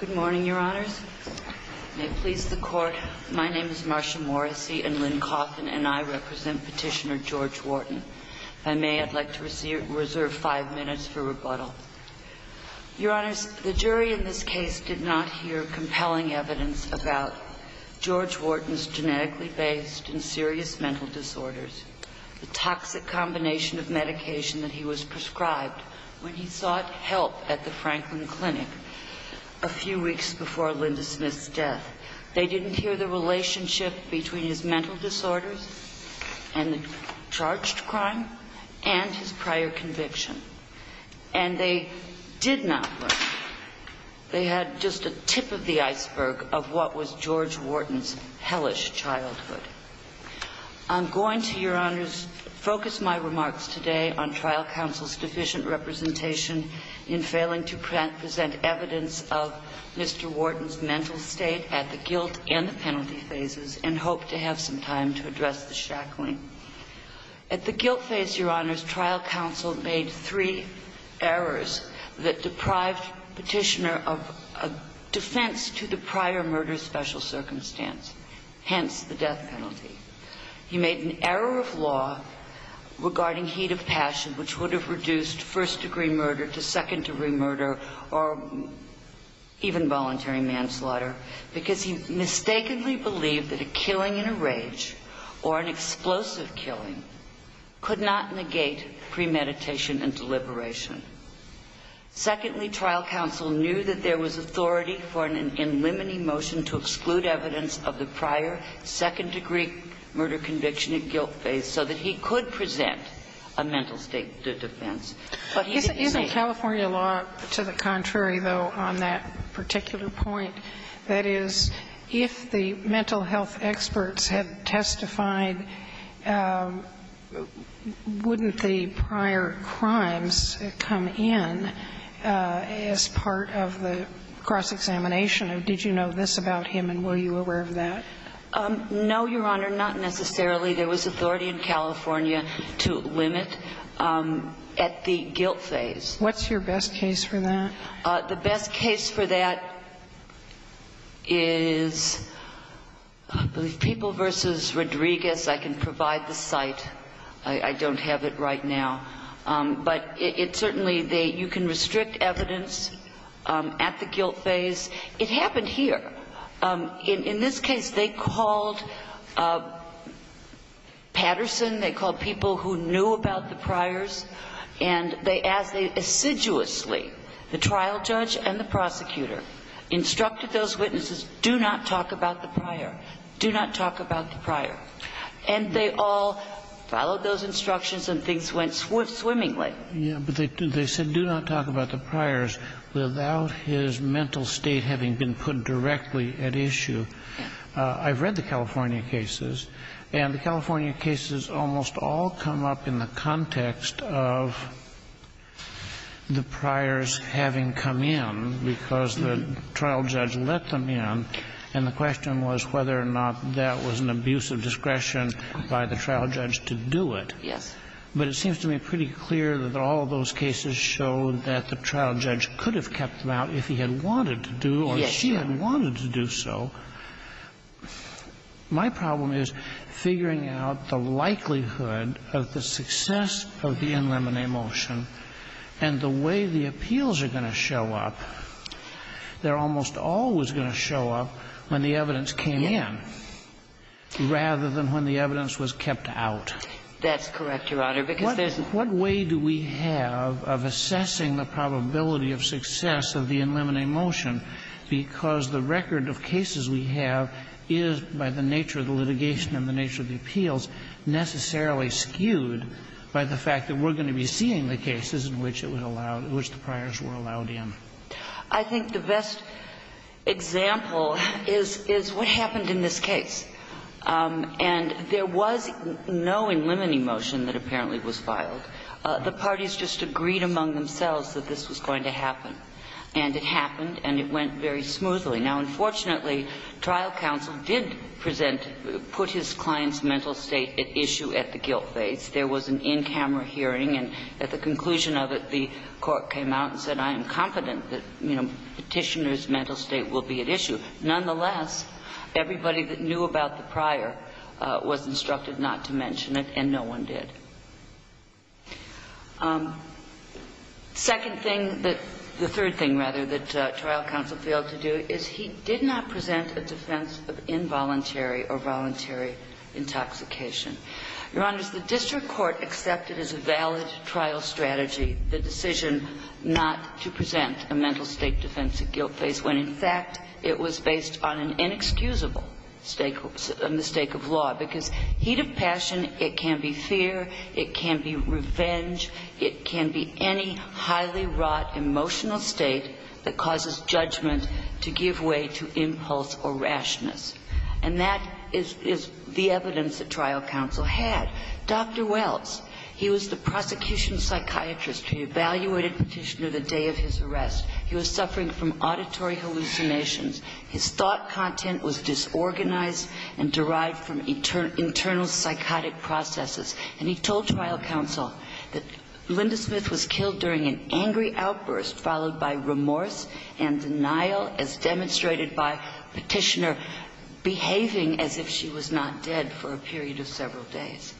Good morning, Your Honors. May it please the Court, my name is Marsha Morrissey and Lynn Coffin and I represent Petitioner George Wharton. If I may, I'd like to reserve five minutes for rebuttal. Your Honors, the jury in this case did not hear compelling evidence about George Wharton's genetically based and serious mental disorders, the toxic combination of a few weeks before Linda Smith's death. They didn't hear the relationship between his mental disorders and the charged crime and his prior conviction. And they did not. They had just a tip of the iceberg of what was George Wharton's hellish childhood. I'm going to, Your Honors, focus my remarks today on trial counsel's deficient representation in failing to present evidence of Mr. Wharton's mental state at the guilt and the penalty phases and hope to have some time to address the shackling. At the guilt phase, Your Honors, trial counsel made three errors that deprived Petitioner of a defense to the prior murder special circumstance, hence the death penalty. He made an error of law regarding heat of passion, which would have reduced first degree murder to second degree murder or even voluntary manslaughter because he mistakenly believed that a killing in a rage or an explosive killing could not negate premeditation and deliberation. Secondly, trial counsel knew that there was authority for an in limine motion to exclude evidence of the prior second degree murder conviction at guilt phase so that he could present a mental state defense. But he didn't say he was guilty. But isn't California law to the contrary, though, on that particular point? That is, if the mental health experts had testified, wouldn't the prior crimes come in as part of the cross-examination of did you know this about him and were you aware of that? No, Your Honor, not necessarily. There was authority in California to limit at the guilt phase. What's your best case for that? The best case for that is, I believe, People v. Rodriguez. I can provide the site. I don't have it right now. But it certainly, you can restrict evidence at the guilt phase. It happened here. In this case, they called Patterson, they called people who knew about the priors, and they, as they assiduously, the trial judge and the prosecutor, instructed those witnesses, do not talk about the prior, do not talk about the prior. And they all followed those instructions and things went swimmingly. But they said do not talk about the priors without his mental state having been put directly at issue. I've read the California cases, and the California cases almost all come up in the context of the priors having come in because the trial judge let them in, and the question was whether or not that was an abuse of discretion by the trial judge to do it. Yes. But it seems to me pretty clear that all of those cases show that the trial judge could have kept them out if he had wanted to do or she had wanted to do so. Yes, Your Honor. My problem is figuring out the likelihood of the success of the in limine motion and the way the appeals are going to show up. They're almost always going to show up when the evidence came in rather than when the evidence was kept out. That's correct, Your Honor, because there's not. What way do we have of assessing the probability of success of the in limine motion because the record of cases we have is, by the nature of the litigation and the nature of the appeals, necessarily skewed by the fact that we're going to be seeing the cases in which it was allowed, in which the priors were allowed in? I think the best example is what happened in this case. And there was no in limine motion that apparently was filed. The parties just agreed among themselves that this was going to happen. And it happened, and it went very smoothly. Now, unfortunately, trial counsel did present, put his client's mental state at issue at the guilt phase. There was an in-camera hearing, and at the conclusion of it, the court came out and said, I am confident that, you know, Petitioner's claim about the prior was instructed not to mention it, and no one did. Second thing that the third thing, rather, that trial counsel failed to do is he did not present a defense of involuntary or voluntary intoxication. Your Honor, the district court accepted as a valid trial strategy the decision not to present a mental state defense at guilt phase when, in fact, it was based on an inexcusable stakeholder mistake of law, because heat of passion, it can be fear, it can be revenge, it can be any highly wrought emotional state that causes judgment to give way to impulse or rashness. And that is the evidence that trial counsel had. Dr. Welts, he was the prosecution psychiatrist who evaluated Petitioner the day of his arrest. He was suffering from auditory hallucinations. His thought content was disorganized and derived from internal psychotic processes. And he told trial counsel that Linda Smith was killed during an angry outburst, followed by remorse and denial, as demonstrated by Petitioner behaving as if she was not dead for a period of several days.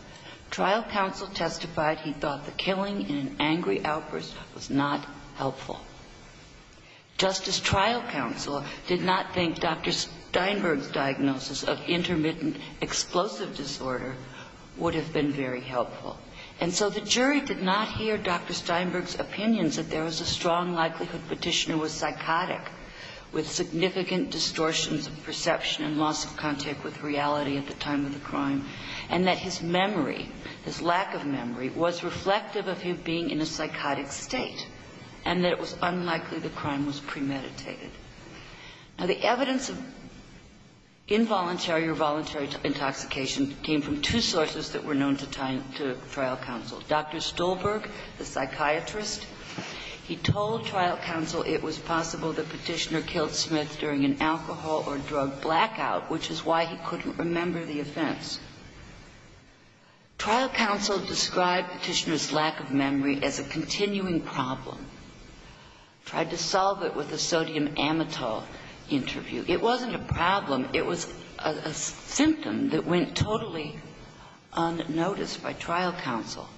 Trial counsel testified he thought the killing in an angry outburst was not helpful. Justice trial counsel did not think Dr. Steinberg's diagnosis of intermittent explosive disorder would have been very helpful. And so the jury did not hear Dr. Steinberg's opinions that there was a strong likelihood Petitioner was psychotic, with significant distortions of perception and loss of contact with reality at the time of the crime, and that his memory, his lack of memory, was reflective of him being in a psychotic state, and that it was unlikely the crime was premeditated. Now, the evidence of involuntary or voluntary intoxication came from two sources that were known to trial counsel. Dr. Stolberg, the psychiatrist, he told trial counsel it was possible that Petitioner killed Smith during an alcohol or drug blackout, which is why he couldn't remember the offense. Trial counsel described Petitioner's lack of memory as a continuing problem, tried to solve it with a sodium amytol interview. It wasn't a problem. It was a symptom that went totally unnoticed by trial counsel.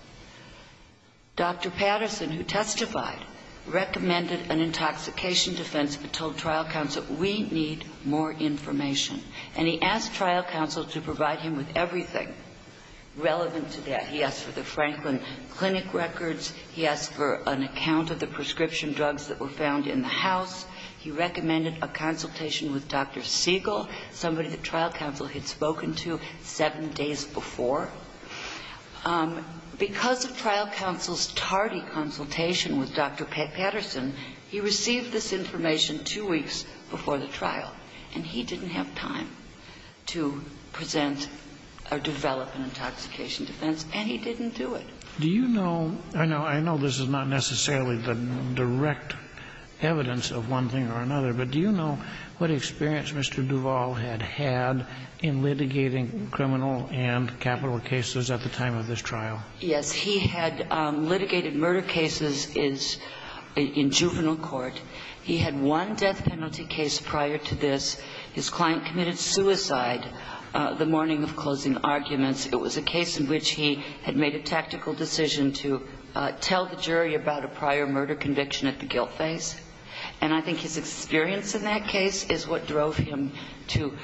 Dr. Patterson, who testified, recommended an intoxication defense, but told trial counsel, we need more information. And he asked trial counsel to provide him with forensic records. He asked for an account of the prescription drugs that were found in the house. He recommended a consultation with Dr. Siegel, somebody that trial counsel had spoken to seven days before. Because of trial counsel's tardy consultation with Dr. Patterson, he received this information two weeks before the trial, and he didn't have time to present or develop an intoxication defense, and he didn't have time to present or develop an intoxication defense. Kennedy, you know, I know this is not necessarily the direct evidence of one thing or another, but do you know what experience Mr. Duvall had had in litigating criminal and capital cases at the time of this trial? Yes. He had litigated murder cases in juvenile court. He had one death penalty case prior to this. His client committed suicide the morning of closing arguments. It was a case in which he had made a tactical decision to tell the jury about a prior murder conviction at the guilt phase. And I think his experience in that case is what drove him to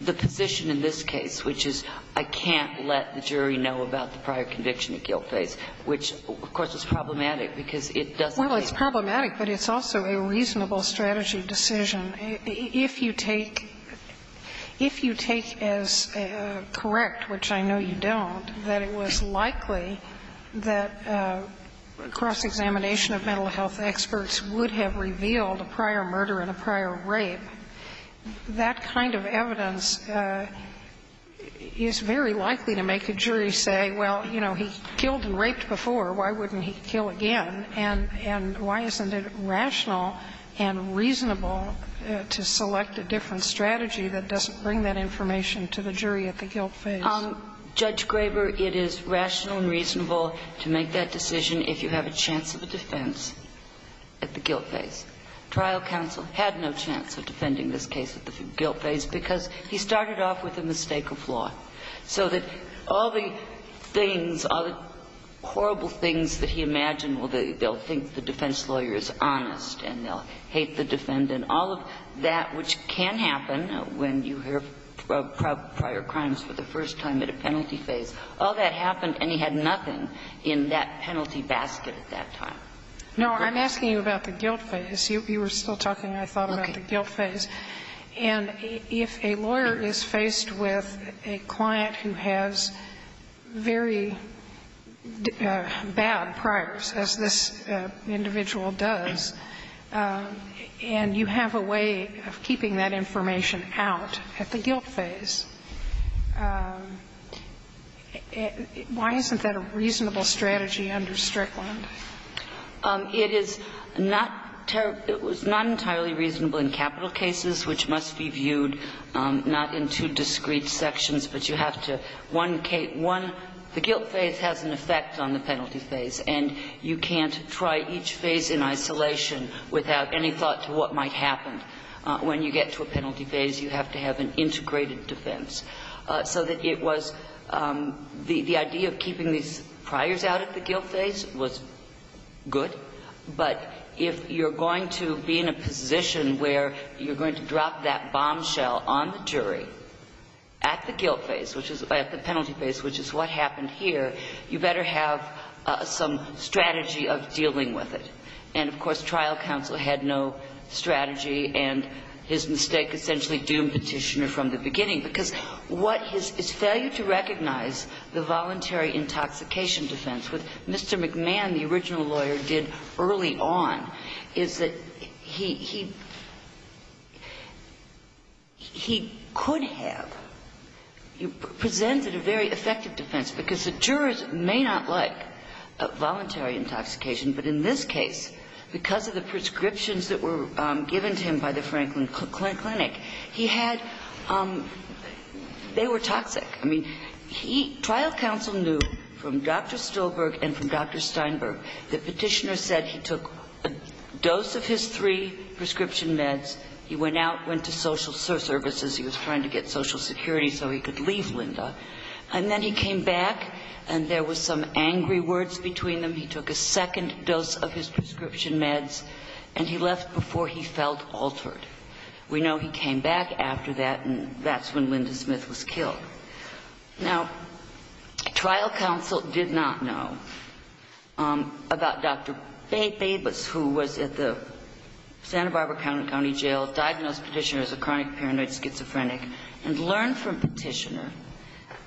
the position in this case, which is, I can't let the jury know about the prior conviction at guilt phase, which, of course, is problematic, because it doesn't make sense. Well, it's problematic, but it's also a reasonable strategy decision. If you take as correct, which I know you don't, that it was likely that a cross-examination of mental health experts would have revealed a prior murder and a prior rape, that kind of evidence is very likely to make a jury say, well, you know, he killed and raped his wife, and why isn't it rational and reasonable to select a different strategy that doesn't bring that information to the jury at the guilt phase? Judge Graber, it is rational and reasonable to make that decision if you have a chance of a defense at the guilt phase. Trial counsel had no chance of defending this case at the guilt phase, because he started off with a mistake of law. So that all the things, all the horrible things that he imagined, well, they'll think the defense lawyer is honest, and they'll hate the defendant. All of that, which can happen when you hear of prior crimes for the first time at a penalty phase, all that happened, and he had nothing in that penalty basket at that time. No, I'm asking you about the guilt phase. You were still talking, I thought, about the guilt phase. And if a lawyer is faced with a client who has very bad priors, as this individual does, and you have a way of keeping that information out at the guilt phase, why isn't that a reasonable strategy under Strickland? It is not entirely reasonable in capital cases, which must be viewed not in two discrete sections, but you have to one case one the guilt phase has an effect on the penalty phase. You can't try each phase in isolation without any thought to what might happen. When you get to a penalty phase, you have to have an integrated defense. So that it was the idea of keeping these priors out at the guilt phase was good, but if you're going to be in a position where you're going to drop that bombshell on the jury at the guilt phase, which is at the penalty phase, which is what happened here, you better have some strategy of dealing with it. And, of course, trial counsel had no strategy, and his mistake essentially doomed Petitioner from the beginning, because what his failure to recognize the voluntary intoxication defense, what Mr. McMahon, the original lawyer, did early on, is that he could have presented a very effective defense, because the jurors may not like voluntary intoxication, but in this case, because of the prescriptions that were given to him by the Franklin Clinic, he had they were toxic. I mean, he trial counsel knew from Dr. Stolberg and from Dr. Steinberg that Petitioner said he took a dose of his three prescription meds, he went out, went to social services, he was trying to get Social Security so he could leave Lynda, and then he came back, and there was some angry words between them, he took a second dose of his prescription meds, and he left before he felt altered. We know he came back after that, and that's when Lynda Smith was killed. Now, trial counsel did not know about Dr. Babus, who was at the Santa Barbara County Jail, diagnosed Petitioner as a chronic paranoid schizophrenic, and learned from Petitioner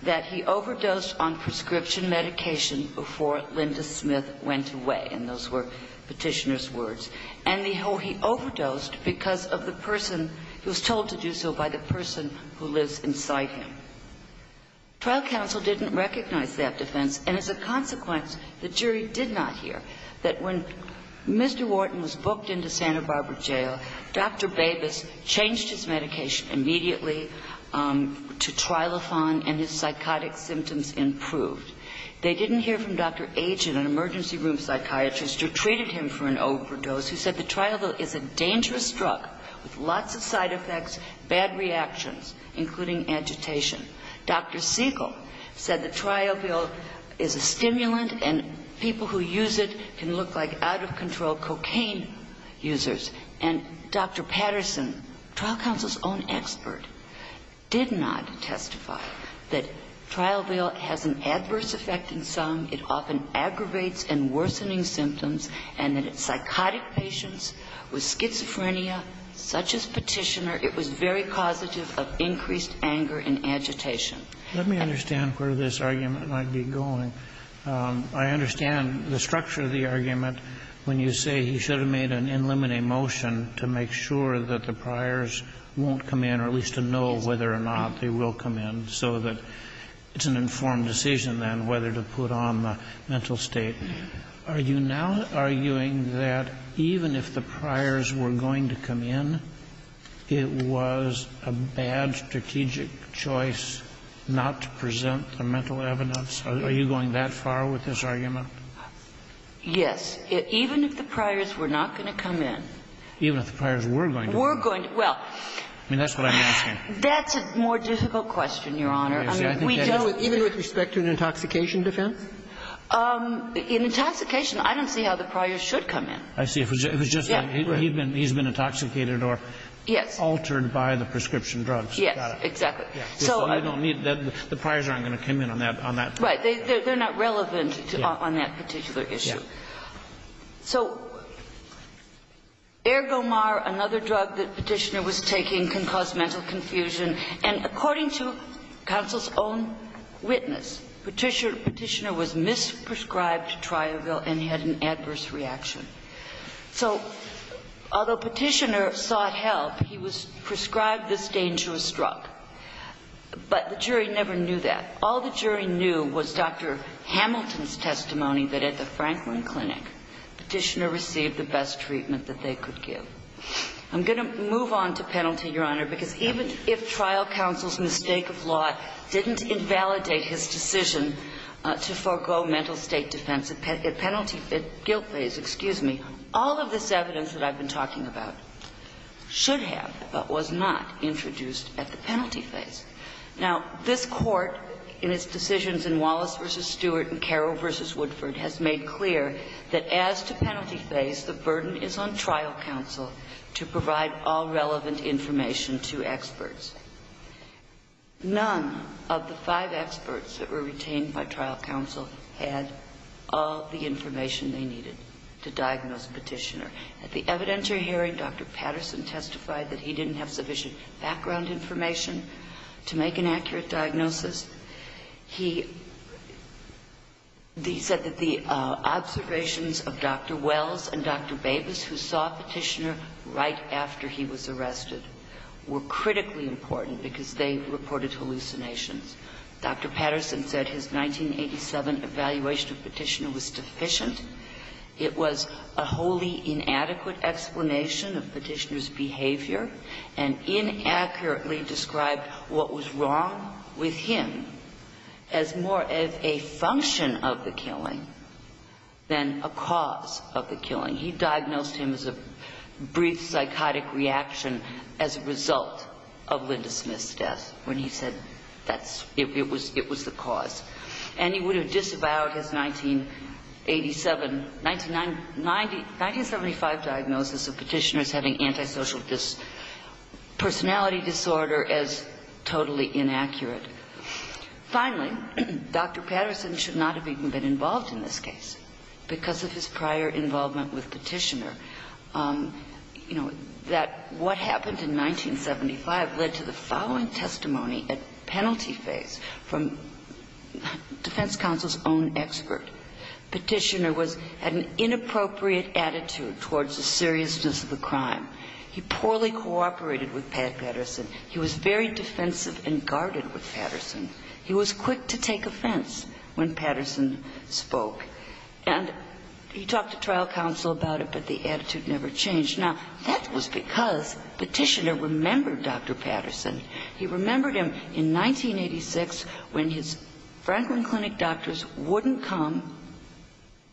that he overdosed on prescription medication before Lynda Smith went away, and those were Petitioner's words, and he overdosed because of the person who was told to do so by the person who lives inside him. Trial counsel didn't recognize that defense, and as a consequence, the jury did not hear that when Mr. Wharton was booked into Santa Barbara Jail, Dr. Babus changed his medication immediately to Trilofan, and his psychotic symptoms improved. They didn't hear from Dr. Agin, an emergency room psychiatrist who treated him for an overdose, who said the Triopil is a dangerous drug with lots of side effects, bad reactions, including agitation. Dr. Siegel said the Triopil is a stimulant, and people who use it can look like out-of-control cocaine users. And Dr. Patterson, trial counsel's own expert, did not testify that Triopil has an adverse effect in some, it often aggravates and worsening symptoms, and that in psychotic patients with schizophrenia, such as Petitioner, it was very causative of increased anger and agitation. Let me understand where this argument might be going. I understand the structure of the argument when you say he should have made an in limine motion to make sure that the priors won't come in, or at least to know whether or not they will come in, so that it's an informed decision then whether to put on the mental state. Are you now arguing that even if the priors were going to come in, it was a bad strategic choice not to present the mental evidence? Are you going that far with this argument? Yes. Even if the priors were not going to come in. Even if the priors were going to come in. Were going to. Well. I mean, that's what I'm asking. That's a more difficult question, Your Honor. I mean, we don't. Even with respect to an intoxication defense? In intoxication, I don't see how the priors should come in. I see. It was just like he's been intoxicated or altered by the prescription drugs. Got it. Yes. Exactly. So I don't need that. The priors aren't going to come in on that. Right. They're not relevant on that particular issue. Yeah. So Ergomar, another drug that Petitioner was taking, can cause mental confusion. And according to counsel's own witness, Petitioner was misprescribed Triavil and had an adverse reaction. So although Petitioner sought help, he was prescribed this drug. And it was Dr. Hamilton's testimony that at the Franklin Clinic, Petitioner received the best treatment that they could give. I'm going to move on to penalty, Your Honor, because even if trial counsel's mistake of law didn't invalidate his decision to forego mental state defense, a penalty at guilt phase, excuse me, all of this evidence that I've been talking about should have but was not introduced at the penalty phase. Now, this Court in its decisions in Wallace v. Stewart and Carroll v. Woodford has made clear that as to penalty phase, the burden is on trial counsel to provide all relevant information to experts. None of the five experts that were retained by trial counsel had all the information they needed to diagnose Petitioner. At the evidentiary hearing, Dr. Patterson testified that he didn't have sufficient background information to make an accurate diagnosis. He said that the observations of Dr. Wells and Dr. Babas, who saw Petitioner right after he was arrested, were critically important because they reported hallucinations. Dr. Patterson said his 1987 evaluation of Petitioner was deficient. It was a wholly inadequate explanation of Petitioner's behavior and inaccurately described what was wrong with him as more of a function of the killing than a cause of the killing. He diagnosed him as a brief psychotic reaction as a result of Linda Smith's death when he said that's – it was the cause. And he would have disavowed his 1987 – 1975 diagnosis of Petitioner as having antisocial personality disorder as totally inaccurate. Finally, Dr. Patterson should not have even been involved in this case because of his prior involvement with Petitioner. You know, that what happened in 1975 led to the following testimony at penalty phase from defense counsel's own expert. Petitioner was – had an inappropriate attitude towards the seriousness of the crime. He poorly cooperated with Pat Patterson. He was very defensive and guarded with Patterson. He was quick to take offense when Patterson spoke. And he talked to trial counsel about it, but the attitude never changed. Now, that was because Petitioner remembered Dr. Patterson. He remembered him in 1986 when his Franklin Clinic doctors wouldn't come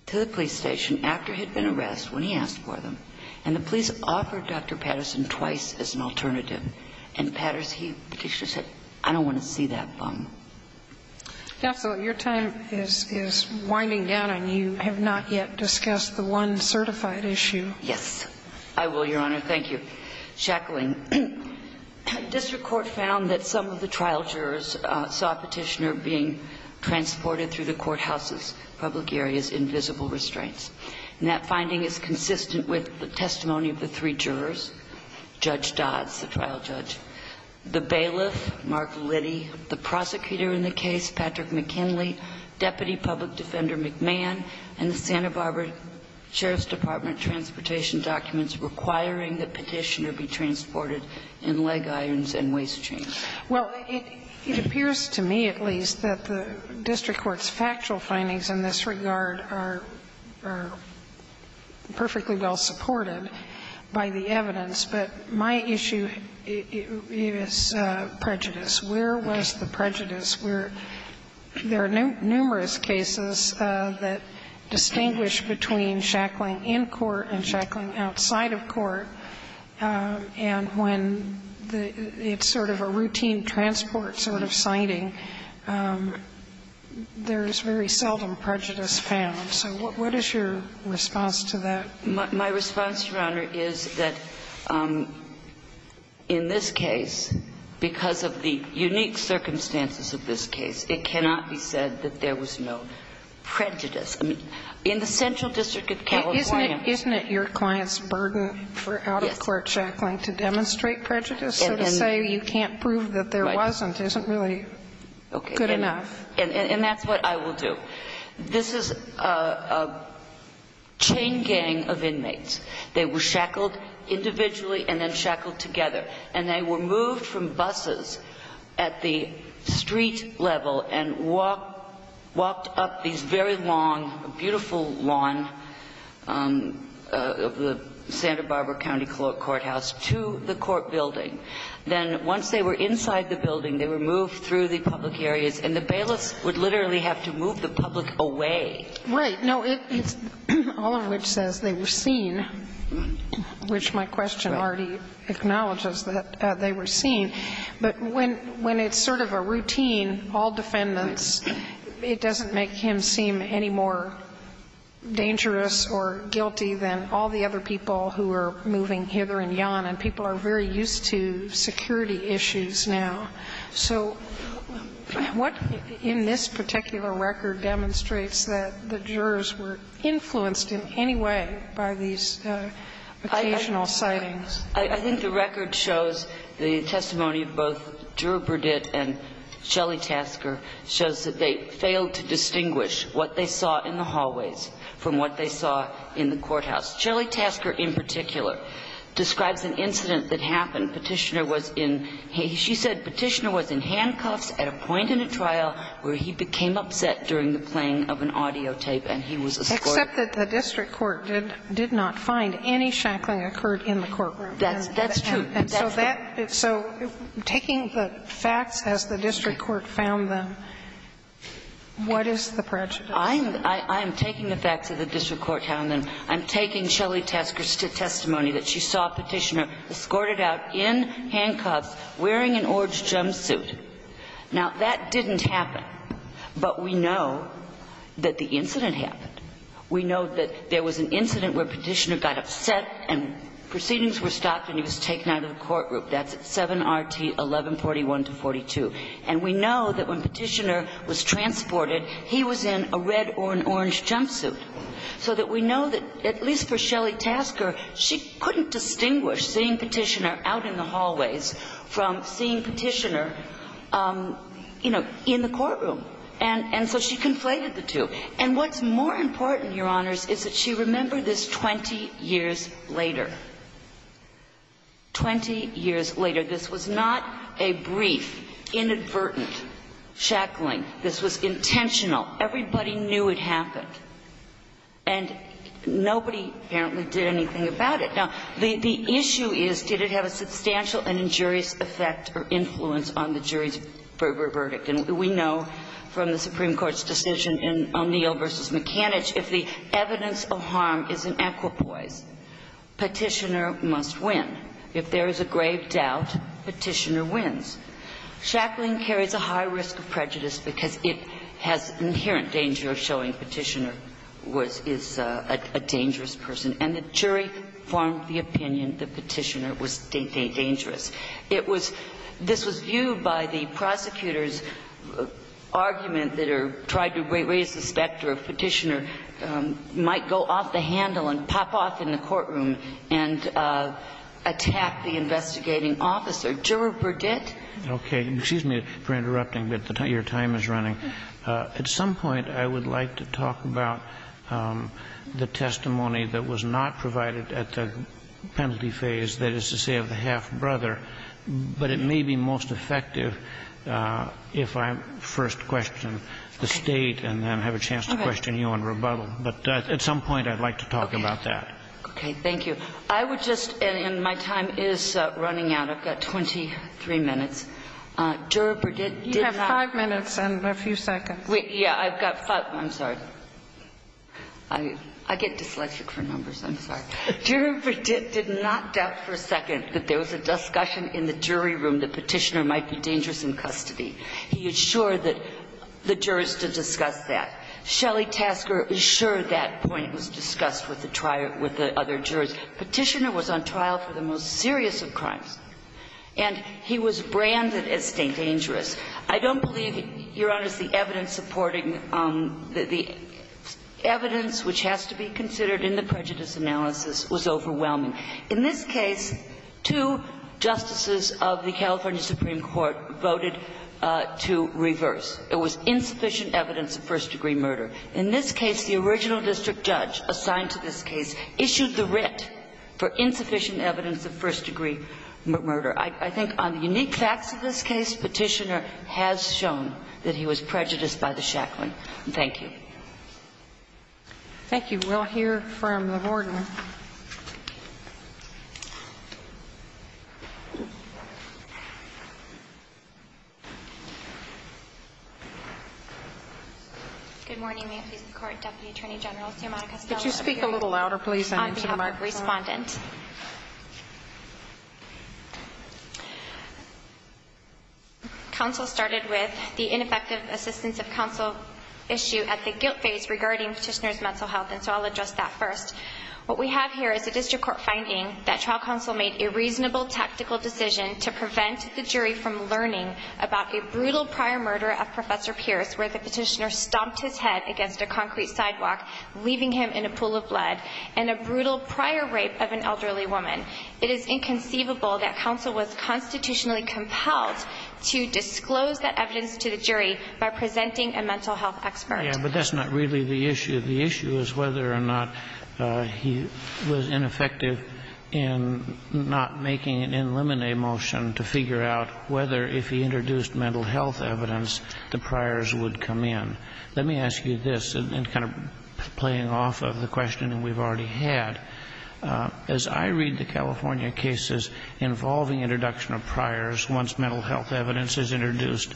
to the police station after he had been arrested when he asked for them. And the police offered Dr. Patterson twice as an alternative. And Patterson, he – Petitioner said, I don't want to see that bum. Sotomayor, your time is winding down, and you have not yet discussed the one certified issue. Yes. I will, Your Honor. Thank you. Thank you, Mr. Shackling. District Court found that some of the trial jurors saw Petitioner being transported through the courthouse's public areas in visible restraints. And that finding is consistent with the testimony of the three jurors, Judge Dodds, the trial judge, the bailiff, Mark Liddy, the prosecutor in the case, Patrick McKinley, Deputy Public Defender McMahon, and the Santa Barbara Sheriff's Department transportation documents requiring that Petitioner be transported in leg irons and waist chains. Well, it appears to me, at least, that the district court's factual findings in this regard are perfectly well supported by the evidence. But my issue is prejudice. Where was the prejudice? There are numerous cases that distinguish between Shackling in court and Shackling outside of court. And when it's sort of a routine transport sort of sighting, there is very seldom prejudice found. So what is your response to that? My response, Your Honor, is that in this case, because of the unique circumstances of this case, it cannot be said that there was no prejudice. In the Central District of California ---- Isn't it your client's burden for out-of-court Shackling to demonstrate prejudice? So to say you can't prove that there wasn't isn't really good enough. And that's what I will do. This is a chain gang of inmates. They were shackled individually and then shackled together. And they were moved from buses at the street level and walked up these very long beautiful lawn of the Santa Barbara County Courthouse to the court building. Then once they were inside the building, they were moved through the public areas. And the bailiffs would literally have to move the public away. Right. No, it's all of which says they were seen, which my question already acknowledges that they were seen. But when it's sort of a routine, all defendants, it doesn't make him seem any more dangerous or guilty than all the other people who are moving hither and yon. And people are very used to security issues now. So what in this particular record demonstrates that the jurors were influenced in any way by these occasional sightings? I think the record shows the testimony of both Drew Burditt and Shelley Tasker shows that they failed to distinguish what they saw in the hallways from what they saw in the courthouse. Shelley Tasker, in particular, describes an incident that happened. Petitioner was in, she said Petitioner was in handcuffs at a point in a trial where he became upset during the playing of an audio tape and he was escorted. Except that the district court did not find any shackling occurred in the courtroom. That's true. And so that, so taking the facts as the district court found them, what is the prejudice? I'm taking the facts as the district court found them. I'm taking Shelley Tasker's testimony that she saw Petitioner escorted out in handcuffs wearing an orange jumpsuit. Now, that didn't happen. But we know that the incident happened. We know that there was an incident where Petitioner got upset and proceedings were stopped and he was taken out of the courtroom. That's at 7RT 1141-42. And we know that when Petitioner was transported, he was in a red or an orange jumpsuit. So that we know that, at least for Shelley Tasker, she couldn't distinguish seeing Petitioner out in the hallways from seeing Petitioner, you know, in the courtroom. And so she conflated the two. And what's more important, Your Honors, is that she remembered this 20 years later. Twenty years later. This was not a brief, inadvertent shackling. This was intentional. Everybody knew it happened. And nobody apparently did anything about it. Now, the issue is, did it have a substantial and injurious effect or influence on the jury's verdict? And we know from the Supreme Court's decision in O'Neill v. McAnitch, if the evidence of harm is an equipoise, Petitioner must win. If there is a grave doubt, Petitioner wins. Shackling carries a high risk of prejudice because it has inherent danger of showing Petitioner was – is a dangerous person. And the jury formed the opinion that Petitioner was dangerous. It was – this was viewed by the prosecutor's argument that her – tried to raise the specter of Petitioner might go off the handle and pop off in the courtroom and attack the investigating officer. Juror Burdett? Okay. Excuse me for interrupting, but your time is running. At some point, I would like to talk about the testimony that was not provided at the penalty phase, that is to say of the half-brother. But it may be most effective if I first question the State and then have a chance to question you on rebuttal. But at some point, I'd like to talk about that. Okay. Thank you. I would just – and my time is running out. I've got 23 minutes. Juror Burdett did not – You have five minutes and a few seconds. Yeah. I've got five – I'm sorry. I get dyslexic for numbers. I'm sorry. Juror Burdett did not doubt for a second that there was a discussion in the jury room that Petitioner might be dangerous in custody. He assured the jurors to discuss that. Shelley Tasker assured that point was discussed with the other jurors. Petitioner was on trial for the most serious of crimes. And he was branded as dangerous. I don't believe, Your Honors, the evidence supporting – the evidence which has to be considered in the prejudice analysis was overwhelming. In this case, two justices of the California Supreme Court voted to reverse. It was insufficient evidence of first-degree murder. In this case, the original district judge assigned to this case issued the writ for insufficient evidence of first-degree murder. I think on the unique facts of this case, Petitioner has shown that he was prejudiced by the shackling. Thank you. Thank you. Thank you. We'll hear from the warden. Good morning. May it please the Court. Deputy Attorney General Sumona Castellano here. Could you speak a little louder, please? On behalf of the Respondent. Counsel started with the ineffective assistance of counsel issue at the guilt phase regarding Petitioner's mental health, and so I'll address that first. What we have here is a district court finding that trial counsel made a reasonable tactical decision to prevent the jury from learning about a brutal prior murder of Professor Pierce where the Petitioner stomped his head against a concrete sidewalk, leaving him in a pool of blood, and a brutal prior rape of an elderly woman. It is inconceivable that counsel was constitutionally compelled to disclose that evidence to the jury by presenting a mental health expert. Yes, but that's not really the issue. The issue is whether or not he was ineffective in not making an in limine motion to figure out whether, if he introduced mental health evidence, the priors would come in. Let me ask you this, and kind of playing off of the question we've already had. As I read the California cases involving introduction of priors once mental health evidence is introduced,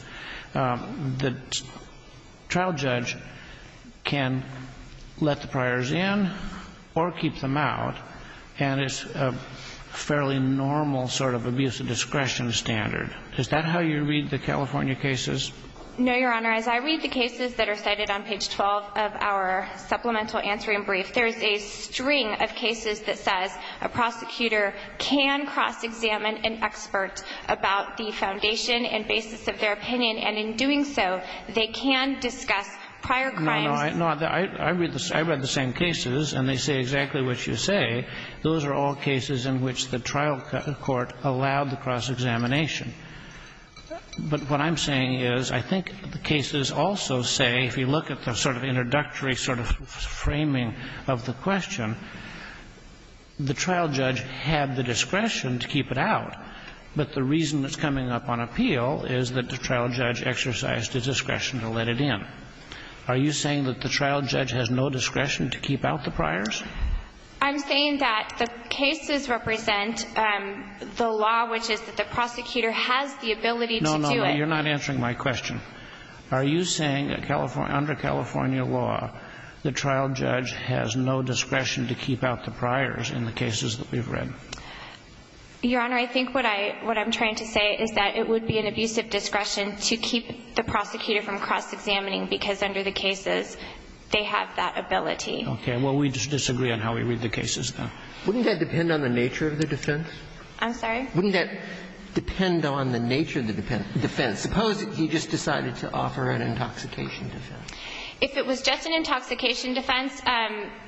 the trial judge can let the priors in or keep them out, and it's a fairly normal sort of abuse of discretion standard. Is that how you read the California cases? No, Your Honor. As I read the cases that are cited on page 12 of our supplemental answering brief, there is a string of cases that says a prosecutor can cross-examine an expert about the foundation and basis of their opinion, and in doing so, they can discuss prior crimes. No, no. I read the same cases, and they say exactly what you say. Those are all cases in which the trial court allowed the cross-examination. But what I'm saying is I think the cases also say, if you look at the sort of introductory sort of framing of the question, the trial judge had the discretion to keep it out, but the reason it's coming up on appeal is that the trial judge exercised a discretion to let it in. Are you saying that the trial judge has no discretion to keep out the priors? I'm saying that the cases represent the law which is that the prosecutor has the ability to do it. No, no. You're not answering my question. Are you saying under California law, the trial judge has no discretion to keep out the priors in the cases that we've read? Your Honor, I think what I'm trying to say is that it would be an abusive discretion to keep the prosecutor from cross-examining because under the cases, they have that ability. Okay. Well, we disagree on how we read the cases, then. Wouldn't that depend on the nature of the defense? I'm sorry? Wouldn't that depend on the nature of the defense? Suppose he just decided to offer an intoxication defense. If it was just an intoxication defense,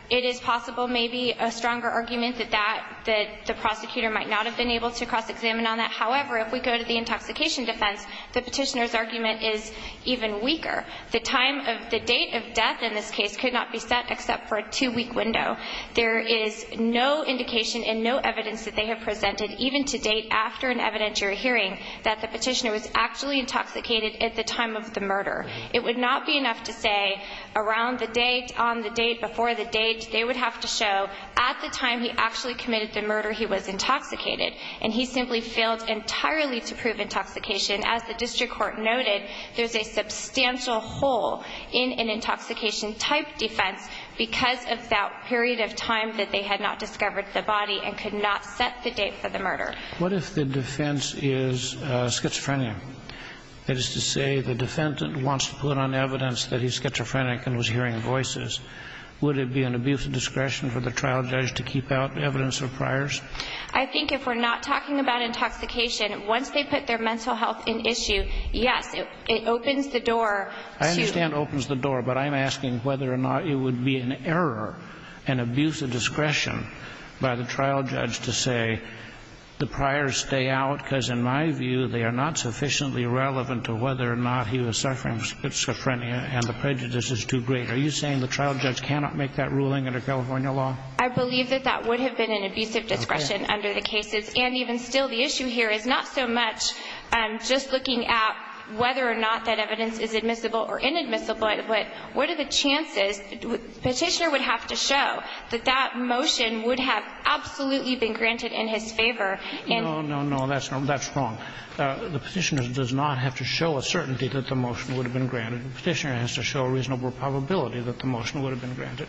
it is possible maybe a stronger argument that that, that the prosecutor might not have been able to cross-examine on that. However, if we go to the intoxication defense, the Petitioner's argument is even weaker. The time of the date of death in this case could not be set except for a two-week window. There is no indication and no evidence that they have presented even to date after an evidentiary hearing that the Petitioner was actually intoxicated at the time of the murder. It would not be enough to say around the date, on the date, before the date. They would have to show at the time he actually committed the murder, he was intoxicated. And he simply failed entirely to prove intoxication. As the District Court noted, there's a substantial hole in an intoxication type defense because of that period of time that they had not discovered the body and could not set the date for the murder. What if the defense is schizophrenia? That is to say, the defendant wants to put on evidence that he's schizophrenic and was hearing voices. Would it be an abuse of discretion for the trial judge to keep out evidence of priors? I think if we're not talking about intoxication, once they put their mental health in issue, yes, it opens the door to... I understand it opens the door, but I'm asking whether or not it would be an error, an abuse of discretion by the trial judge to say the priors stay out because, in my view, they are not sufficiently relevant to whether or not he was suffering schizophrenia and the prejudice is too great. Are you saying the trial judge cannot make that ruling under California law? I believe that that would have been an abuse of discretion under the cases. And even still, the issue here is not so much just looking at whether or not that is reasonable or inadmissible, but what are the chances? Petitioner would have to show that that motion would have absolutely been granted in his favor. No, no, no. That's wrong. The Petitioner does not have to show a certainty that the motion would have been granted. The Petitioner has to show a reasonable probability that the motion would have been granted.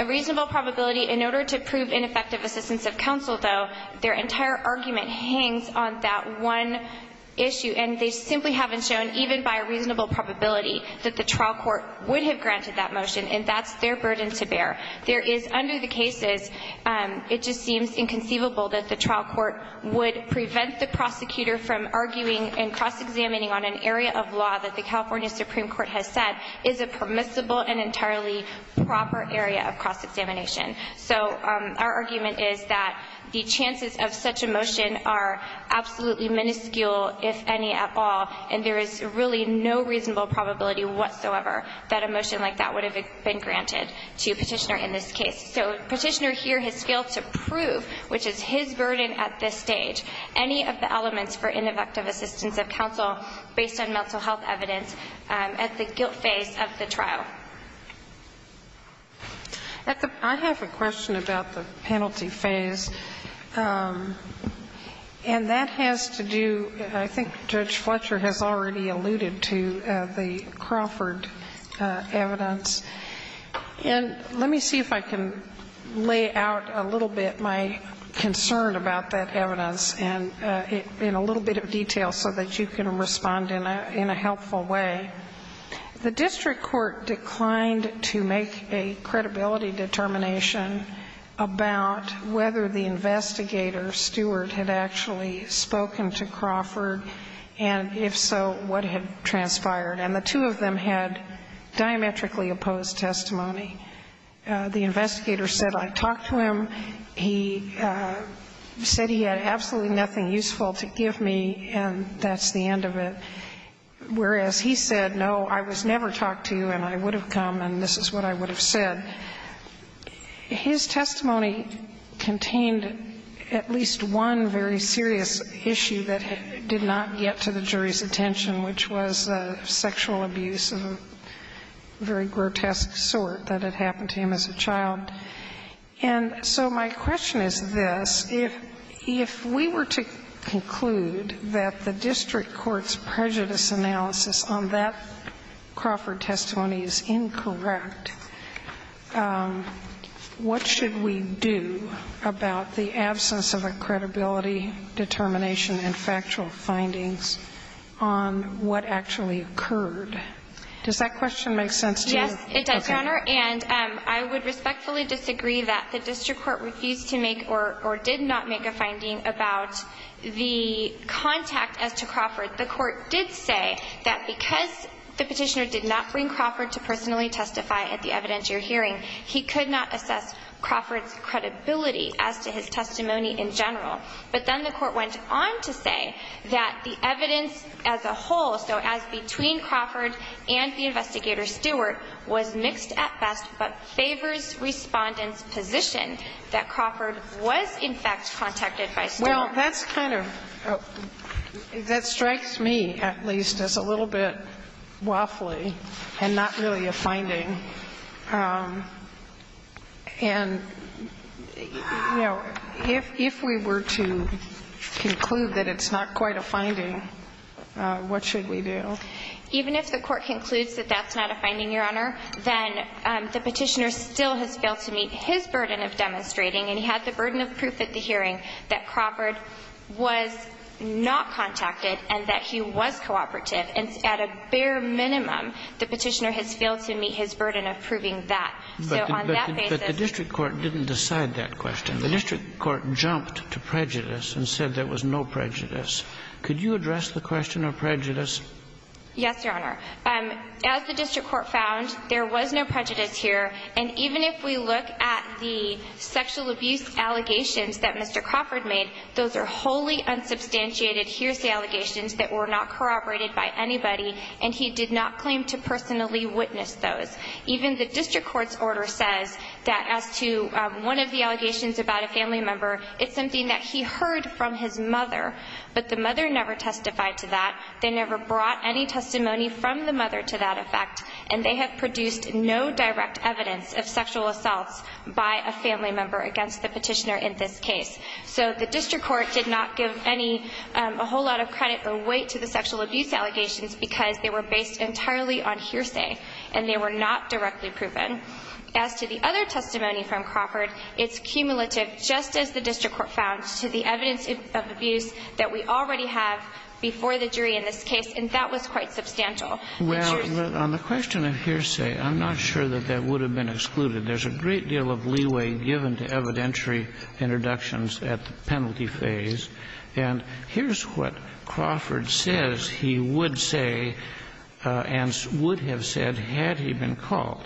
A reasonable probability? In order to prove ineffective assistance of counsel, though, their entire argument hangs on that one issue. And they simply haven't shown, even by a reasonable probability, that the trial court would have granted that motion. And that's their burden to bear. There is, under the cases, it just seems inconceivable that the trial court would prevent the prosecutor from arguing and cross-examining on an area of law that the California Supreme Court has said is a permissible and entirely proper area of cross-examination. So our argument is that the chances of such a motion are absolutely minuscule if any at all, and there is really no reasonable probability whatsoever that a motion like that would have been granted to Petitioner in this case. So Petitioner here has failed to prove, which is his burden at this stage, any of the elements for ineffective assistance of counsel based on mental health evidence at the guilt phase of the trial. I have a question about the penalty phase, and that has to do, I think Judge Fletcher has already alluded to, the Crawford evidence. And let me see if I can lay out a little bit my concern about that evidence in a little bit of detail so that you can respond in a helpful way. The district court declined to make a credibility determination about whether the investigator, Stewart, had actually spoken to Crawford, and if so, what had transpired. And the two of them had diametrically opposed testimony. The investigator said, I talked to him, he said he had absolutely nothing useful to give me, and that's the end of it. Whereas he said, no, I was never talked to and I would have come and this is what I would have said. His testimony contained at least one very serious issue that did not get to the jury's attention, which was sexual abuse of a very grotesque sort that had happened to him as a child. And so my question is this. If we were to conclude that the district court's prejudice analysis on that Crawford testimony is incorrect, what should we do about the absence of a credibility, determination, and factual findings on what actually occurred? Does that question make sense to you? Yes, it does, Your Honor. And I would respectfully disagree that the district court refused to make or did not make a finding about the contact as to Crawford. The court did say that because the petitioner did not bring Crawford to personally testify at the evidentiary hearing, he could not assess Crawford's credibility as to his testimony in general. But then the court went on to say that the evidence as a whole, so as between Crawford and the investigator Stewart, was mixed at best, but favors Respondent's position that Crawford was, in fact, contacted by Stewart. Well, that's kind of – that strikes me, at least, as a little bit waffly and not really a finding. And, you know, if we were to conclude that it's not quite a finding, what should we do? Even if the court concludes that that's not a finding, Your Honor, then the petitioner still has failed to meet his burden of demonstrating. And he had the burden of proof at the hearing that Crawford was not contacted and that he was cooperative. And at a bare minimum, the petitioner has failed to meet his burden of proving that. So on that basis – But the district court didn't decide that question. The district court jumped to prejudice and said there was no prejudice. Could you address the question of prejudice? Yes, Your Honor. As the district court found, there was no prejudice here. And even if we look at the sexual abuse allegations that Mr. Crawford made, those are wholly unsubstantiated hearsay allegations that were not corroborated by anybody, and he did not claim to personally witness those. Even the district court's order says that as to one of the allegations about a family member, it's something that he heard from his mother, but the mother never testified to that. They never brought any testimony from the mother to that effect, and they have produced no direct evidence of sexual assaults by a family member against the petitioner in this case. So the district court did not give any – a whole lot of credit or weight to the sexual abuse allegations because they were based entirely on hearsay, and they were not directly proven. As to the other testimony from Crawford, it's cumulative, just as the district court found, to the evidence of abuse that we already have before the jury in this case, and that was quite substantial. Well, on the question of hearsay, I'm not sure that that would have been excluded. There's a great deal of leeway given to evidentiary introductions at the penalty phase, and here's what Crawford says he would say and would have said had he been called.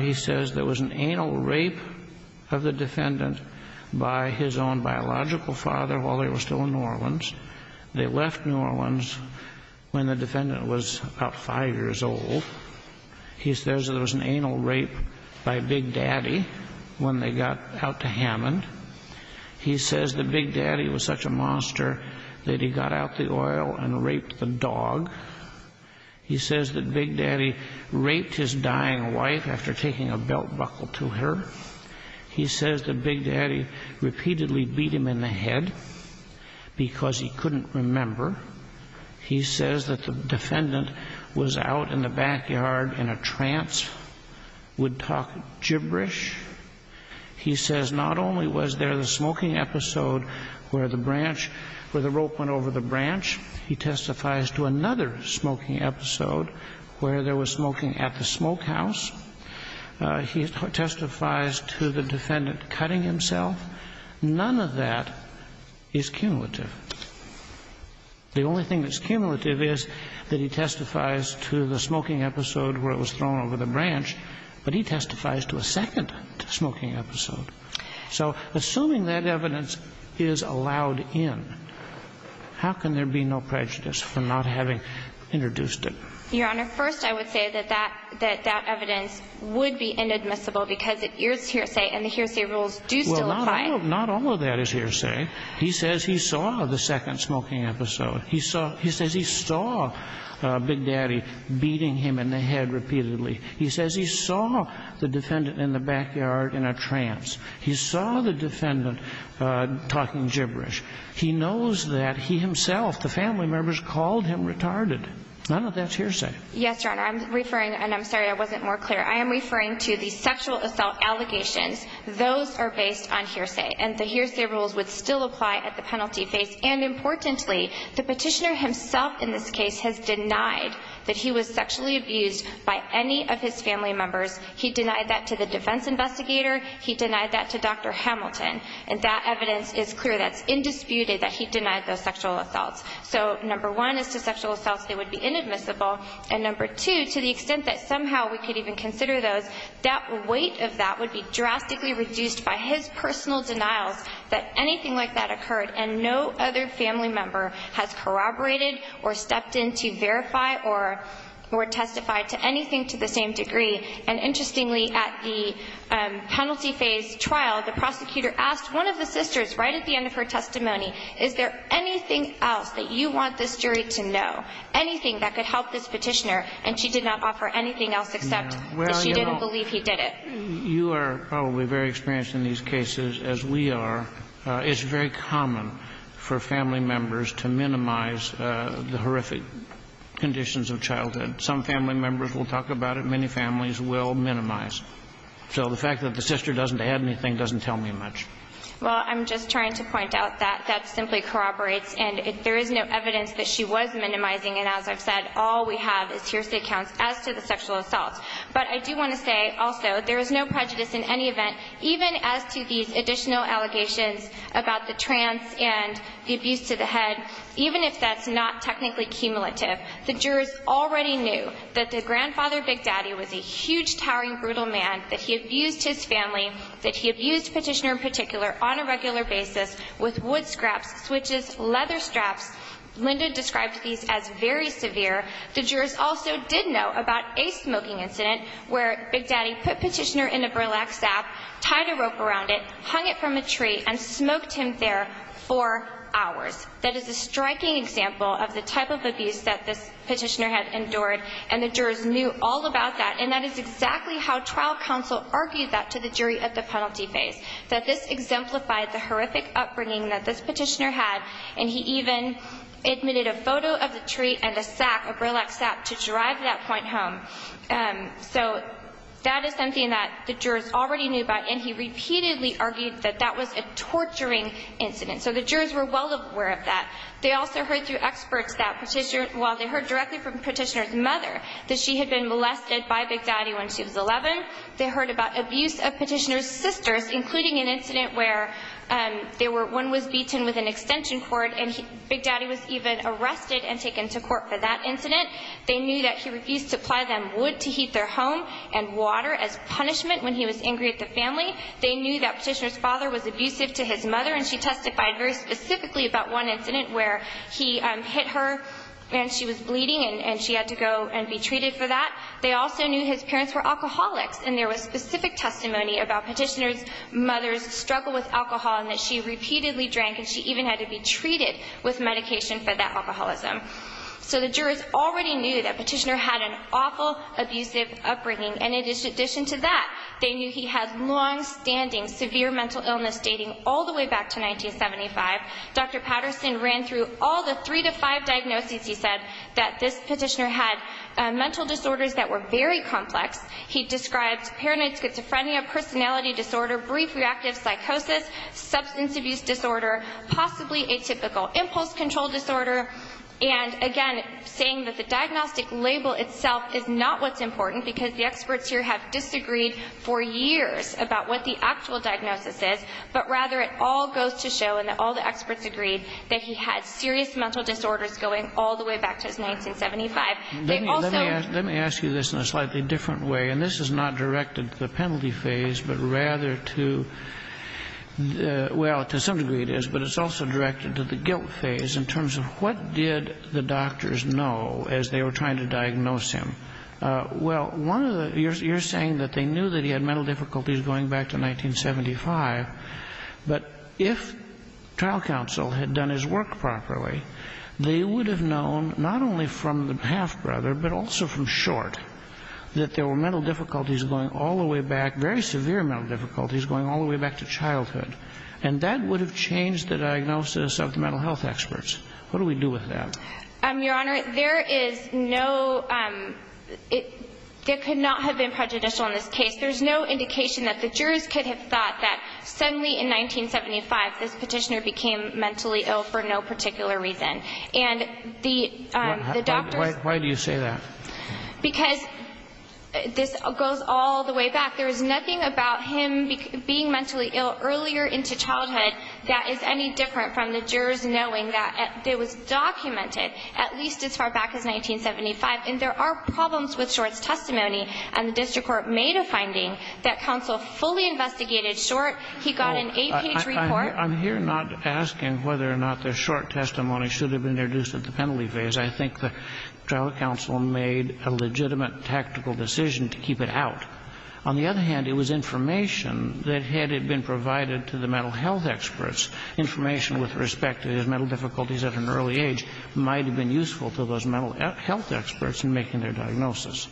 He says there was an anal rape of the defendant by his own biological father while they were still in New Orleans. They left New Orleans when the defendant was about five years old. He says there was an anal rape by Big Daddy when they got out to Hammond. He says that Big Daddy was such a monster that he got out the oil and raped the dog. He says that Big Daddy raped his dying wife after taking a belt buckle to her. He says that Big Daddy repeatedly beat him in the head because he couldn't remember. He says that the defendant was out in the backyard in a trance, would talk gibberish. He says not only was there the smoking episode where the branch, where the rope went over the branch, he testifies to another smoking episode where there was smoking at the smokehouse. He testifies to the defendant cutting himself. None of that is cumulative. The only thing that's cumulative is that he testifies to the smoking episode where it was thrown over the branch, but he testifies to a second smoking episode. So assuming that evidence is allowed in, how can there be no prejudice for not having introduced it? Your Honor, first I would say that that evidence would be inadmissible because it is hearsay and the hearsay rules do still apply. Well, not all of that is hearsay. He says he saw the second smoking episode. He says he saw Big Daddy beating him in the head repeatedly. He says he saw the defendant in the backyard in a trance. He saw the defendant talking gibberish. He knows that he himself, the family members, called him retarded. None of that's hearsay. Yes, Your Honor. I'm referring, and I'm sorry I wasn't more clear. I am referring to the sexual assault allegations. Those are based on hearsay, and the hearsay rules would still apply at the penalty phase. And importantly, the Petitioner himself in this case has denied that he was sexually abused by any of his family members. He denied that to the defense investigator. He denied that to Dr. Hamilton. And that evidence is clear. That's indisputed that he denied those sexual assaults. So, number one, as to sexual assaults, they would be inadmissible. And number two, to the extent that somehow we could even consider those, that weight of that would be drastically reduced by his personal denials that anything like that occurred and no other family member has corroborated or stepped in to verify or testify to anything to the same degree. And interestingly, at the penalty phase trial, the prosecutor asked one of the sisters right at the end of her testimony, is there anything else that you want this jury to know, anything that could help this Petitioner? And she did not offer anything else except that she didn't believe he did it. You are probably very experienced in these cases, as we are. It's very common for family members to minimize the horrific conditions of childhood. And some family members will talk about it. Many families will minimize. So the fact that the sister doesn't add anything doesn't tell me much. Well, I'm just trying to point out that that simply corroborates. And there is no evidence that she was minimizing. And as I've said, all we have is hearsay counts as to the sexual assaults. But I do want to say, also, there is no prejudice in any event, even as to these additional allegations about the trance and the abuse to the head, even if that's not technically cumulative. The jurors already knew that their grandfather, Big Daddy, was a huge, towering, brutal man, that he abused his family, that he abused Petitioner in particular on a regular basis with wood scraps, switches, leather straps. Linda described these as very severe. The jurors also did know about a smoking incident where Big Daddy put Petitioner in a burlap sack, tied a rope around it, hung it from a tree, and smoked him there for hours. That is a striking example of the type of abuse that this Petitioner had endured. And the jurors knew all about that. And that is exactly how trial counsel argued that to the jury at the penalty phase, that this exemplified the horrific upbringing that this Petitioner had. And he even admitted a photo of the tree and a sack, a burlap sack, to drive that point home. So that is something that the jurors already knew about. And he repeatedly argued that that was a torturing incident. So the jurors were well aware of that. They also heard through experts that Petitioner, well they heard directly from Petitioner's mother, that she had been molested by Big Daddy when she was 11. They heard about abuse of Petitioner's sisters, including an incident where one was beaten with an extension cord and Big Daddy was even arrested and taken to court for that incident. They knew that he refused to apply them wood to heat their home and water as punishment when he was angry at the family. They knew that Petitioner's father was abusive to his mother and she testified very specifically about one incident where he hit her and she was bleeding and she had to go and be treated for that. They also knew his parents were alcoholics and there was specific testimony about Petitioner's mother's struggle with alcohol and that she repeatedly drank and she even had to be treated with medication for that alcoholism. So the jurors already knew that Petitioner had an awful, abusive upbringing. And in addition to that, they knew he had long-standing severe mental illness dating all the way back to 1975. Dr. Patterson ran through all the three to five diagnoses he said that this Petitioner had mental disorders that were very complex. He described paranoid schizophrenia, personality disorder, brief reactive psychosis, substance abuse disorder, possibly atypical impulse control disorder, and again saying that the diagnostic label itself is not what's important because the experts here have disagreed for years about what the actual diagnosis is, but rather it all goes to show and all the experts agreed that he had serious mental disorders going all the way back to 1975. They also ---- Let me ask you this in a slightly different way. And this is not directed to the penalty phase, but rather to the ---- well, to some degree it is, but it's also directed to the guilt phase in terms of what did the doctors know as they were trying to diagnose him. Well, one of the ---- you're saying that they knew that he had mental difficulties going back to 1975, but if trial counsel had done his work properly, they would have known not only from the half-brother, but also from Short that there were mental difficulties going all the way back, very severe mental difficulties going all the way back to childhood. And that would have changed the diagnosis of the mental health experts. What do we do with that? Your Honor, there is no ---- there could not have been prejudicial in this case. There's no indication that the jurors could have thought that suddenly in 1975 this petitioner became mentally ill for no particular reason. And the doctors ---- Why do you say that? Because this goes all the way back. There was nothing about him being mentally ill earlier into childhood that is any different from the jurors knowing that it was documented at least as far back as 1975. And there are problems with Short's testimony. And the district court made a finding that counsel fully investigated Short. He got an 8-page report. I'm here not asking whether or not the Short testimony should have been introduced at the penalty phase. I think the trial counsel made a legitimate tactical decision to keep it out. On the other hand, it was information that had been provided to the mental health experts, information with respect to his mental difficulties at an early age, might have been useful to those mental health experts in making their diagnosis.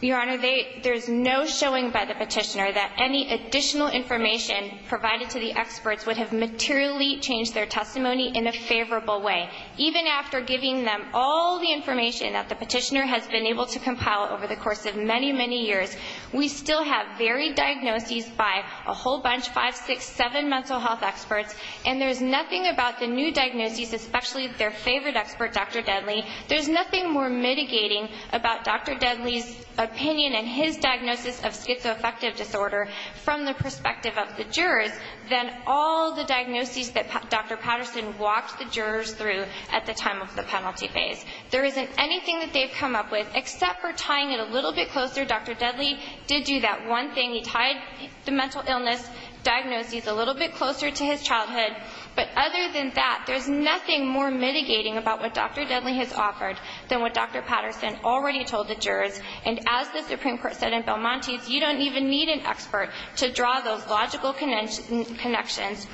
Your Honor, they ---- there's no showing by the petitioner that any additional information provided to the experts would have materially changed their testimony in a favorable way. Even after giving them all the information that the petitioner has been able to compile over the course of many, many years, we still have varied diagnoses by a whole bunch of 5, 6, 7 mental health experts. And there's nothing about the new diagnoses, especially their favorite expert, Dr. Deadly, there's nothing more mitigating about Dr. Deadly's opinion and his diagnosis of schizoaffective disorder from the perspective of the jurors than all the diagnoses that Dr. Patterson walked the jurors through at the time of the penalty phase. There isn't anything that they've come up with except for tying it a little bit closer. Dr. Deadly did do that one thing. He tied the mental illness diagnoses a little bit closer to his childhood. But other than that, there's nothing more mitigating about what Dr. Deadly has offered than what Dr. Patterson already told the jurors. And as the Supreme Court said in Belmonte's, you don't even need an expert to draw those logical connections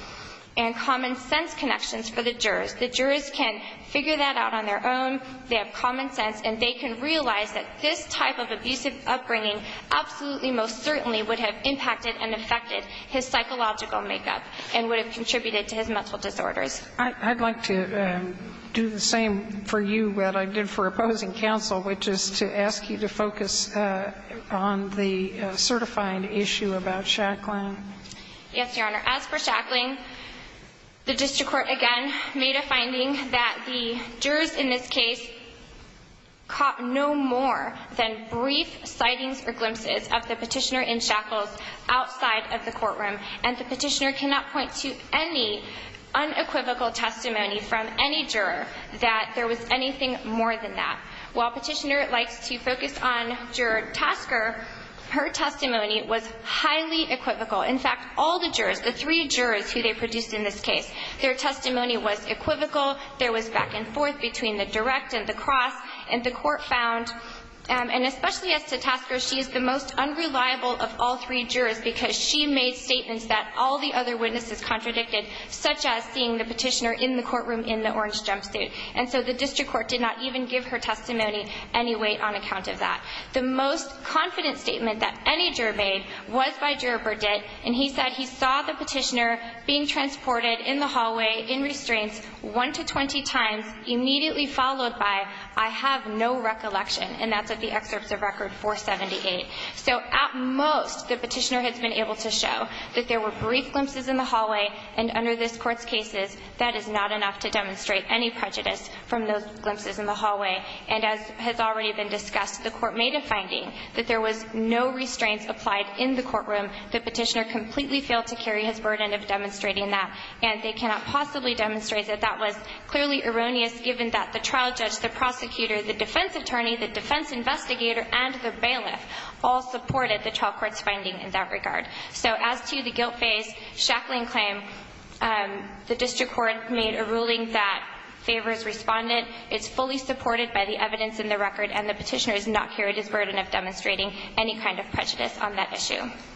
and common sense connections for the jurors. The jurors can figure that out on their own. They have common sense. And they can realize that this type of abusive upbringing absolutely most certainly would have impacted and affected his psychological makeup and would have contributed to his mental disorders. I'd like to do the same for you that I did for opposing counsel, which is to ask you to focus on the certifying issue about Shackling. Yes, Your Honor. As for Shackling, the district court again made a finding that the jurors in this case caught no more than brief sightings or glimpses of the petitioner in Shackles outside of the courtroom. And the petitioner cannot point to any unequivocal testimony from any juror that there was anything more than that. While petitioner likes to focus on juror Tasker, her testimony was highly equivocal. In fact, all the jurors, the three jurors who they produced in this case, their testimony was equivocal. There was back and forth between the direct and the cross. And the court found, and especially as to Tasker, she is the most unreliable of all three jurors because she made statements that all the other witnesses contradicted, such as seeing the petitioner in the courtroom in the orange jumpsuit. And so the district court did not even give her testimony any weight on account of that. The most confident statement that any juror made was by Juror Burditt. And he said he saw the petitioner being transported in the hallway in restraints one to 20 times, immediately followed by, I have no recollection. And that's at the excerpts of Record 478. So at most, the petitioner has been able to show that there were brief glimpses in the hallway. And under this Court's cases, that is not enough to demonstrate any prejudice from those glimpses in the hallway. And as has already been discussed, the court made a finding that there was no restraints applied in the courtroom. The petitioner completely failed to carry his burden of demonstrating that. And they cannot possibly demonstrate that that was clearly erroneous, given that the trial judge, the prosecutor, the defense attorney, the defense investigator, and the bailiff all supported the trial court's finding in that regard. So as to the guilt phase, Shacklin claimed the district court made a ruling that favors respondent. It's fully supported by the evidence in the record. And the petitioner has not carried his burden of demonstrating any kind of prejudice on that issue. Thank you.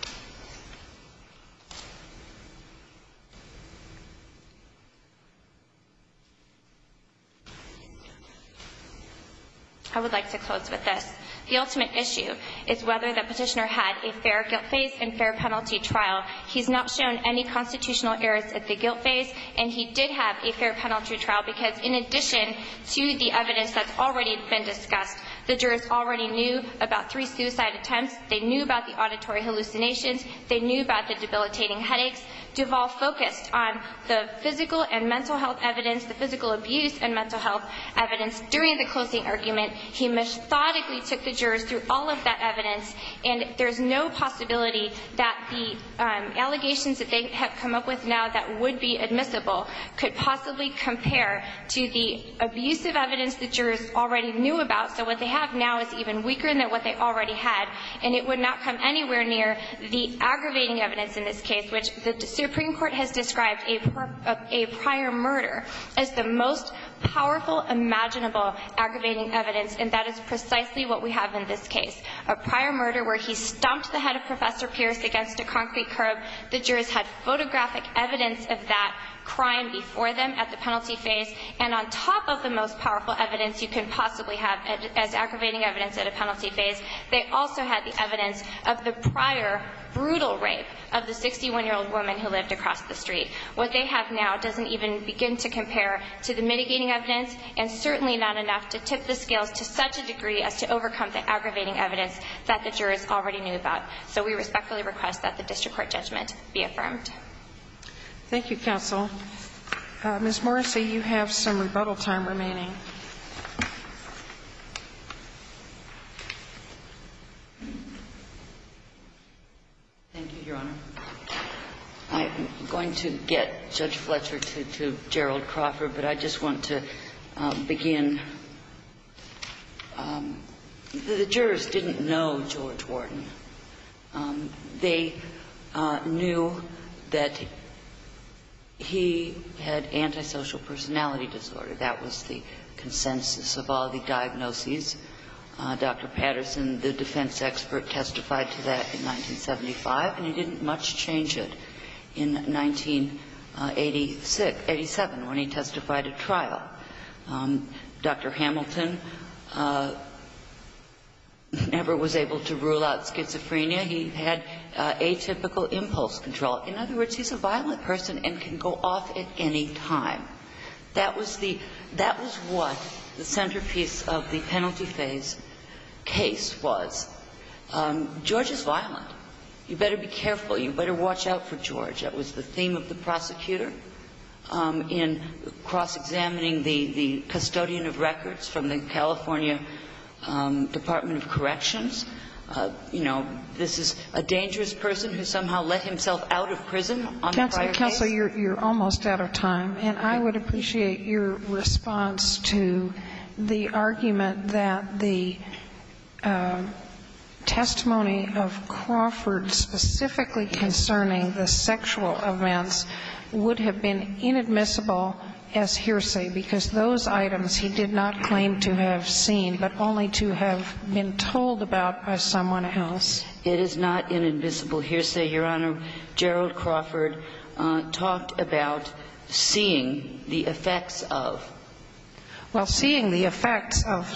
I would like to close with this. The ultimate issue is whether the petitioner had a fair guilt phase and fair penalty trial. He's not shown any constitutional errors at the guilt phase, and he did have a fair penalty trial, because in addition to the evidence that's already been discussed, the jurors already knew about three suicide attempts. They knew about the auditory hallucinations. They knew about the debilitating headaches. Duvall focused on the physical and mental health evidence, the physical abuse and mental health evidence during the closing argument. He methodically took the jurors through all of that evidence, and there's no possibility that the allegations that they have come up with now that would be admissible could possibly compare to the abusive evidence the jurors already knew about. So what they have now is even weaker than what they already had, and it would not come anywhere near the aggravating evidence in this case, which the Supreme Court has described a prior murder as the most powerful imaginable aggravating evidence, and that is precisely what we have in this case, a prior murder where he stomped the head of Professor Pierce against a concrete curb. The jurors had photographic evidence of that crime before them at the penalty phase, and on top of the most powerful evidence you can possibly have as aggravating evidence at a penalty phase, they also had the evidence of the prior brutal rape of the 61-year-old woman who lived across the street. What they have now doesn't even begin to compare to the mitigating evidence, and certainly not enough to tip the scales to such a degree as to overcome the aggravating evidence that the jurors already knew about. So we respectfully request that the district court judgment be affirmed. Thank you, counsel. Ms. Morrissey, you have some rebuttal time remaining. Thank you, Your Honor. I'm going to get Judge Fletcher to Gerald Crawford, but I just want to begin. The jurors didn't know George Wharton. They knew that he had antisocial personality disorder. That was the consensus of all the diagnoses. Dr. Patterson, the defense expert, testified to that in 1975, and he didn't much change it in 1987 when he testified at trial. Dr. Hamilton never was able to rule out schizophrenia. He had atypical impulse control. In other words, he's a violent person and can go off at any time. That was the – that was what the centerpiece of the penalty phase case was. George is violent. You better watch out for George. That was the theme of the prosecutor in cross-examining the custodian of records from the California Department of Corrections. You know, this is a dangerous person who somehow let himself out of prison on a prior case. Counsel, you're almost out of time, and I would appreciate your response to the argument that the testimony of Crawford specifically concerning the sexual events would have been inadmissible as hearsay, because those items he did not claim to have seen, but only to have been told about by someone else. It is not inadmissible hearsay, Your Honor. Gerald Crawford talked about seeing the effects of. Well, seeing the effects of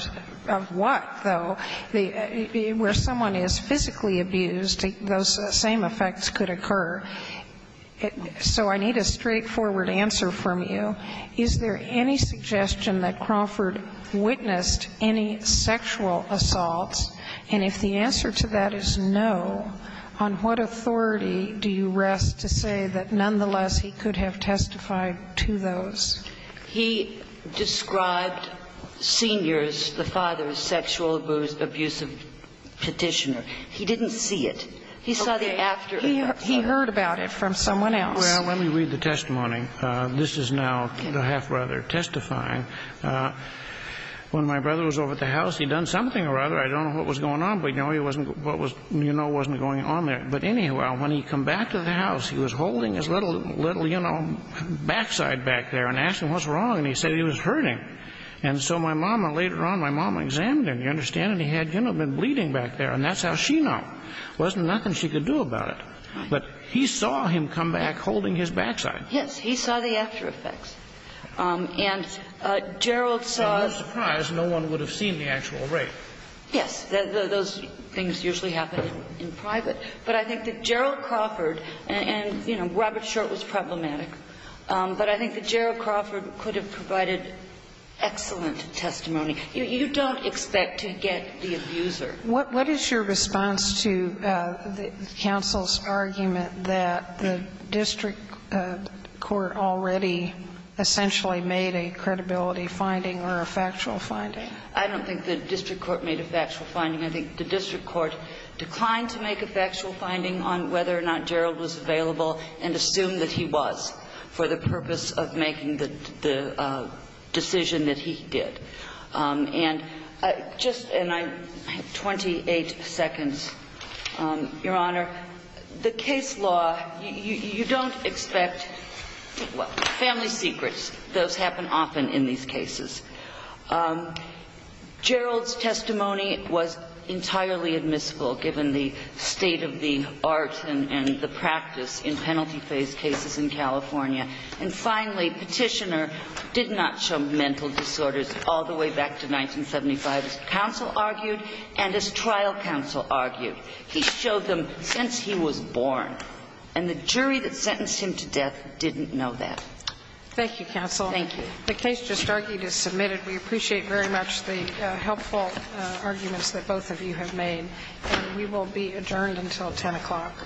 what, though? Where someone is physically abused, those same effects could occur. So I need a straightforward answer from you. Is there any suggestion that Crawford witnessed any sexual assaults? And if the answer to that is no, on what authority do you rest to say that, nonetheless, he could have testified to those? He described Senior's, the father's, sexual abuse of Petitioner. He didn't see it. Okay. He saw the after. He heard about it from someone else. Well, let me read the testimony. This is now the half-brother testifying. When my brother was over at the house, he'd done something or other. I don't know what was going on, but, you know, he wasn't going on there. But, anyhow, when he'd come back to the house, he was holding his little, you know, backside back there and asked him, what's wrong? And he said he was hurting. And so my mom, later on, my mom examined him, you understand, and he had, you know, been bleeding back there. And that's how she knew. There wasn't nothing she could do about it. Right. But he saw him come back holding his backside. Yes. He saw the after effects. And Gerald saw... And no surprise, no one would have seen the actual rape. Yes. Those things usually happen in private. But I think that Gerald Crawford and, you know, Robert Short was problematic. But I think that Gerald Crawford could have provided excellent testimony. You don't expect to get the abuser. What is your response to the counsel's argument that the district court already essentially made a credibility finding or a factual finding? I don't think the district court made a factual finding. I think the district court declined to make a factual finding on whether or not Gerald was available and assumed that he was for the purpose of making the decision that he did. And I have 28 seconds. Your Honor, the case law, you don't expect family secrets. Those happen often in these cases. Gerald's testimony was entirely admissible given the state of the art and the practice in penalty phase cases in California. And finally, Petitioner did not show mental disorders all the way back to 1975, as counsel argued and as trial counsel argued. He showed them since he was born. And the jury that sentenced him to death didn't know that. Thank you, counsel. Thank you. The case just argued is submitted. We appreciate very much the helpful arguments that both of you have made. And we will be adjourned until 10 o'clock.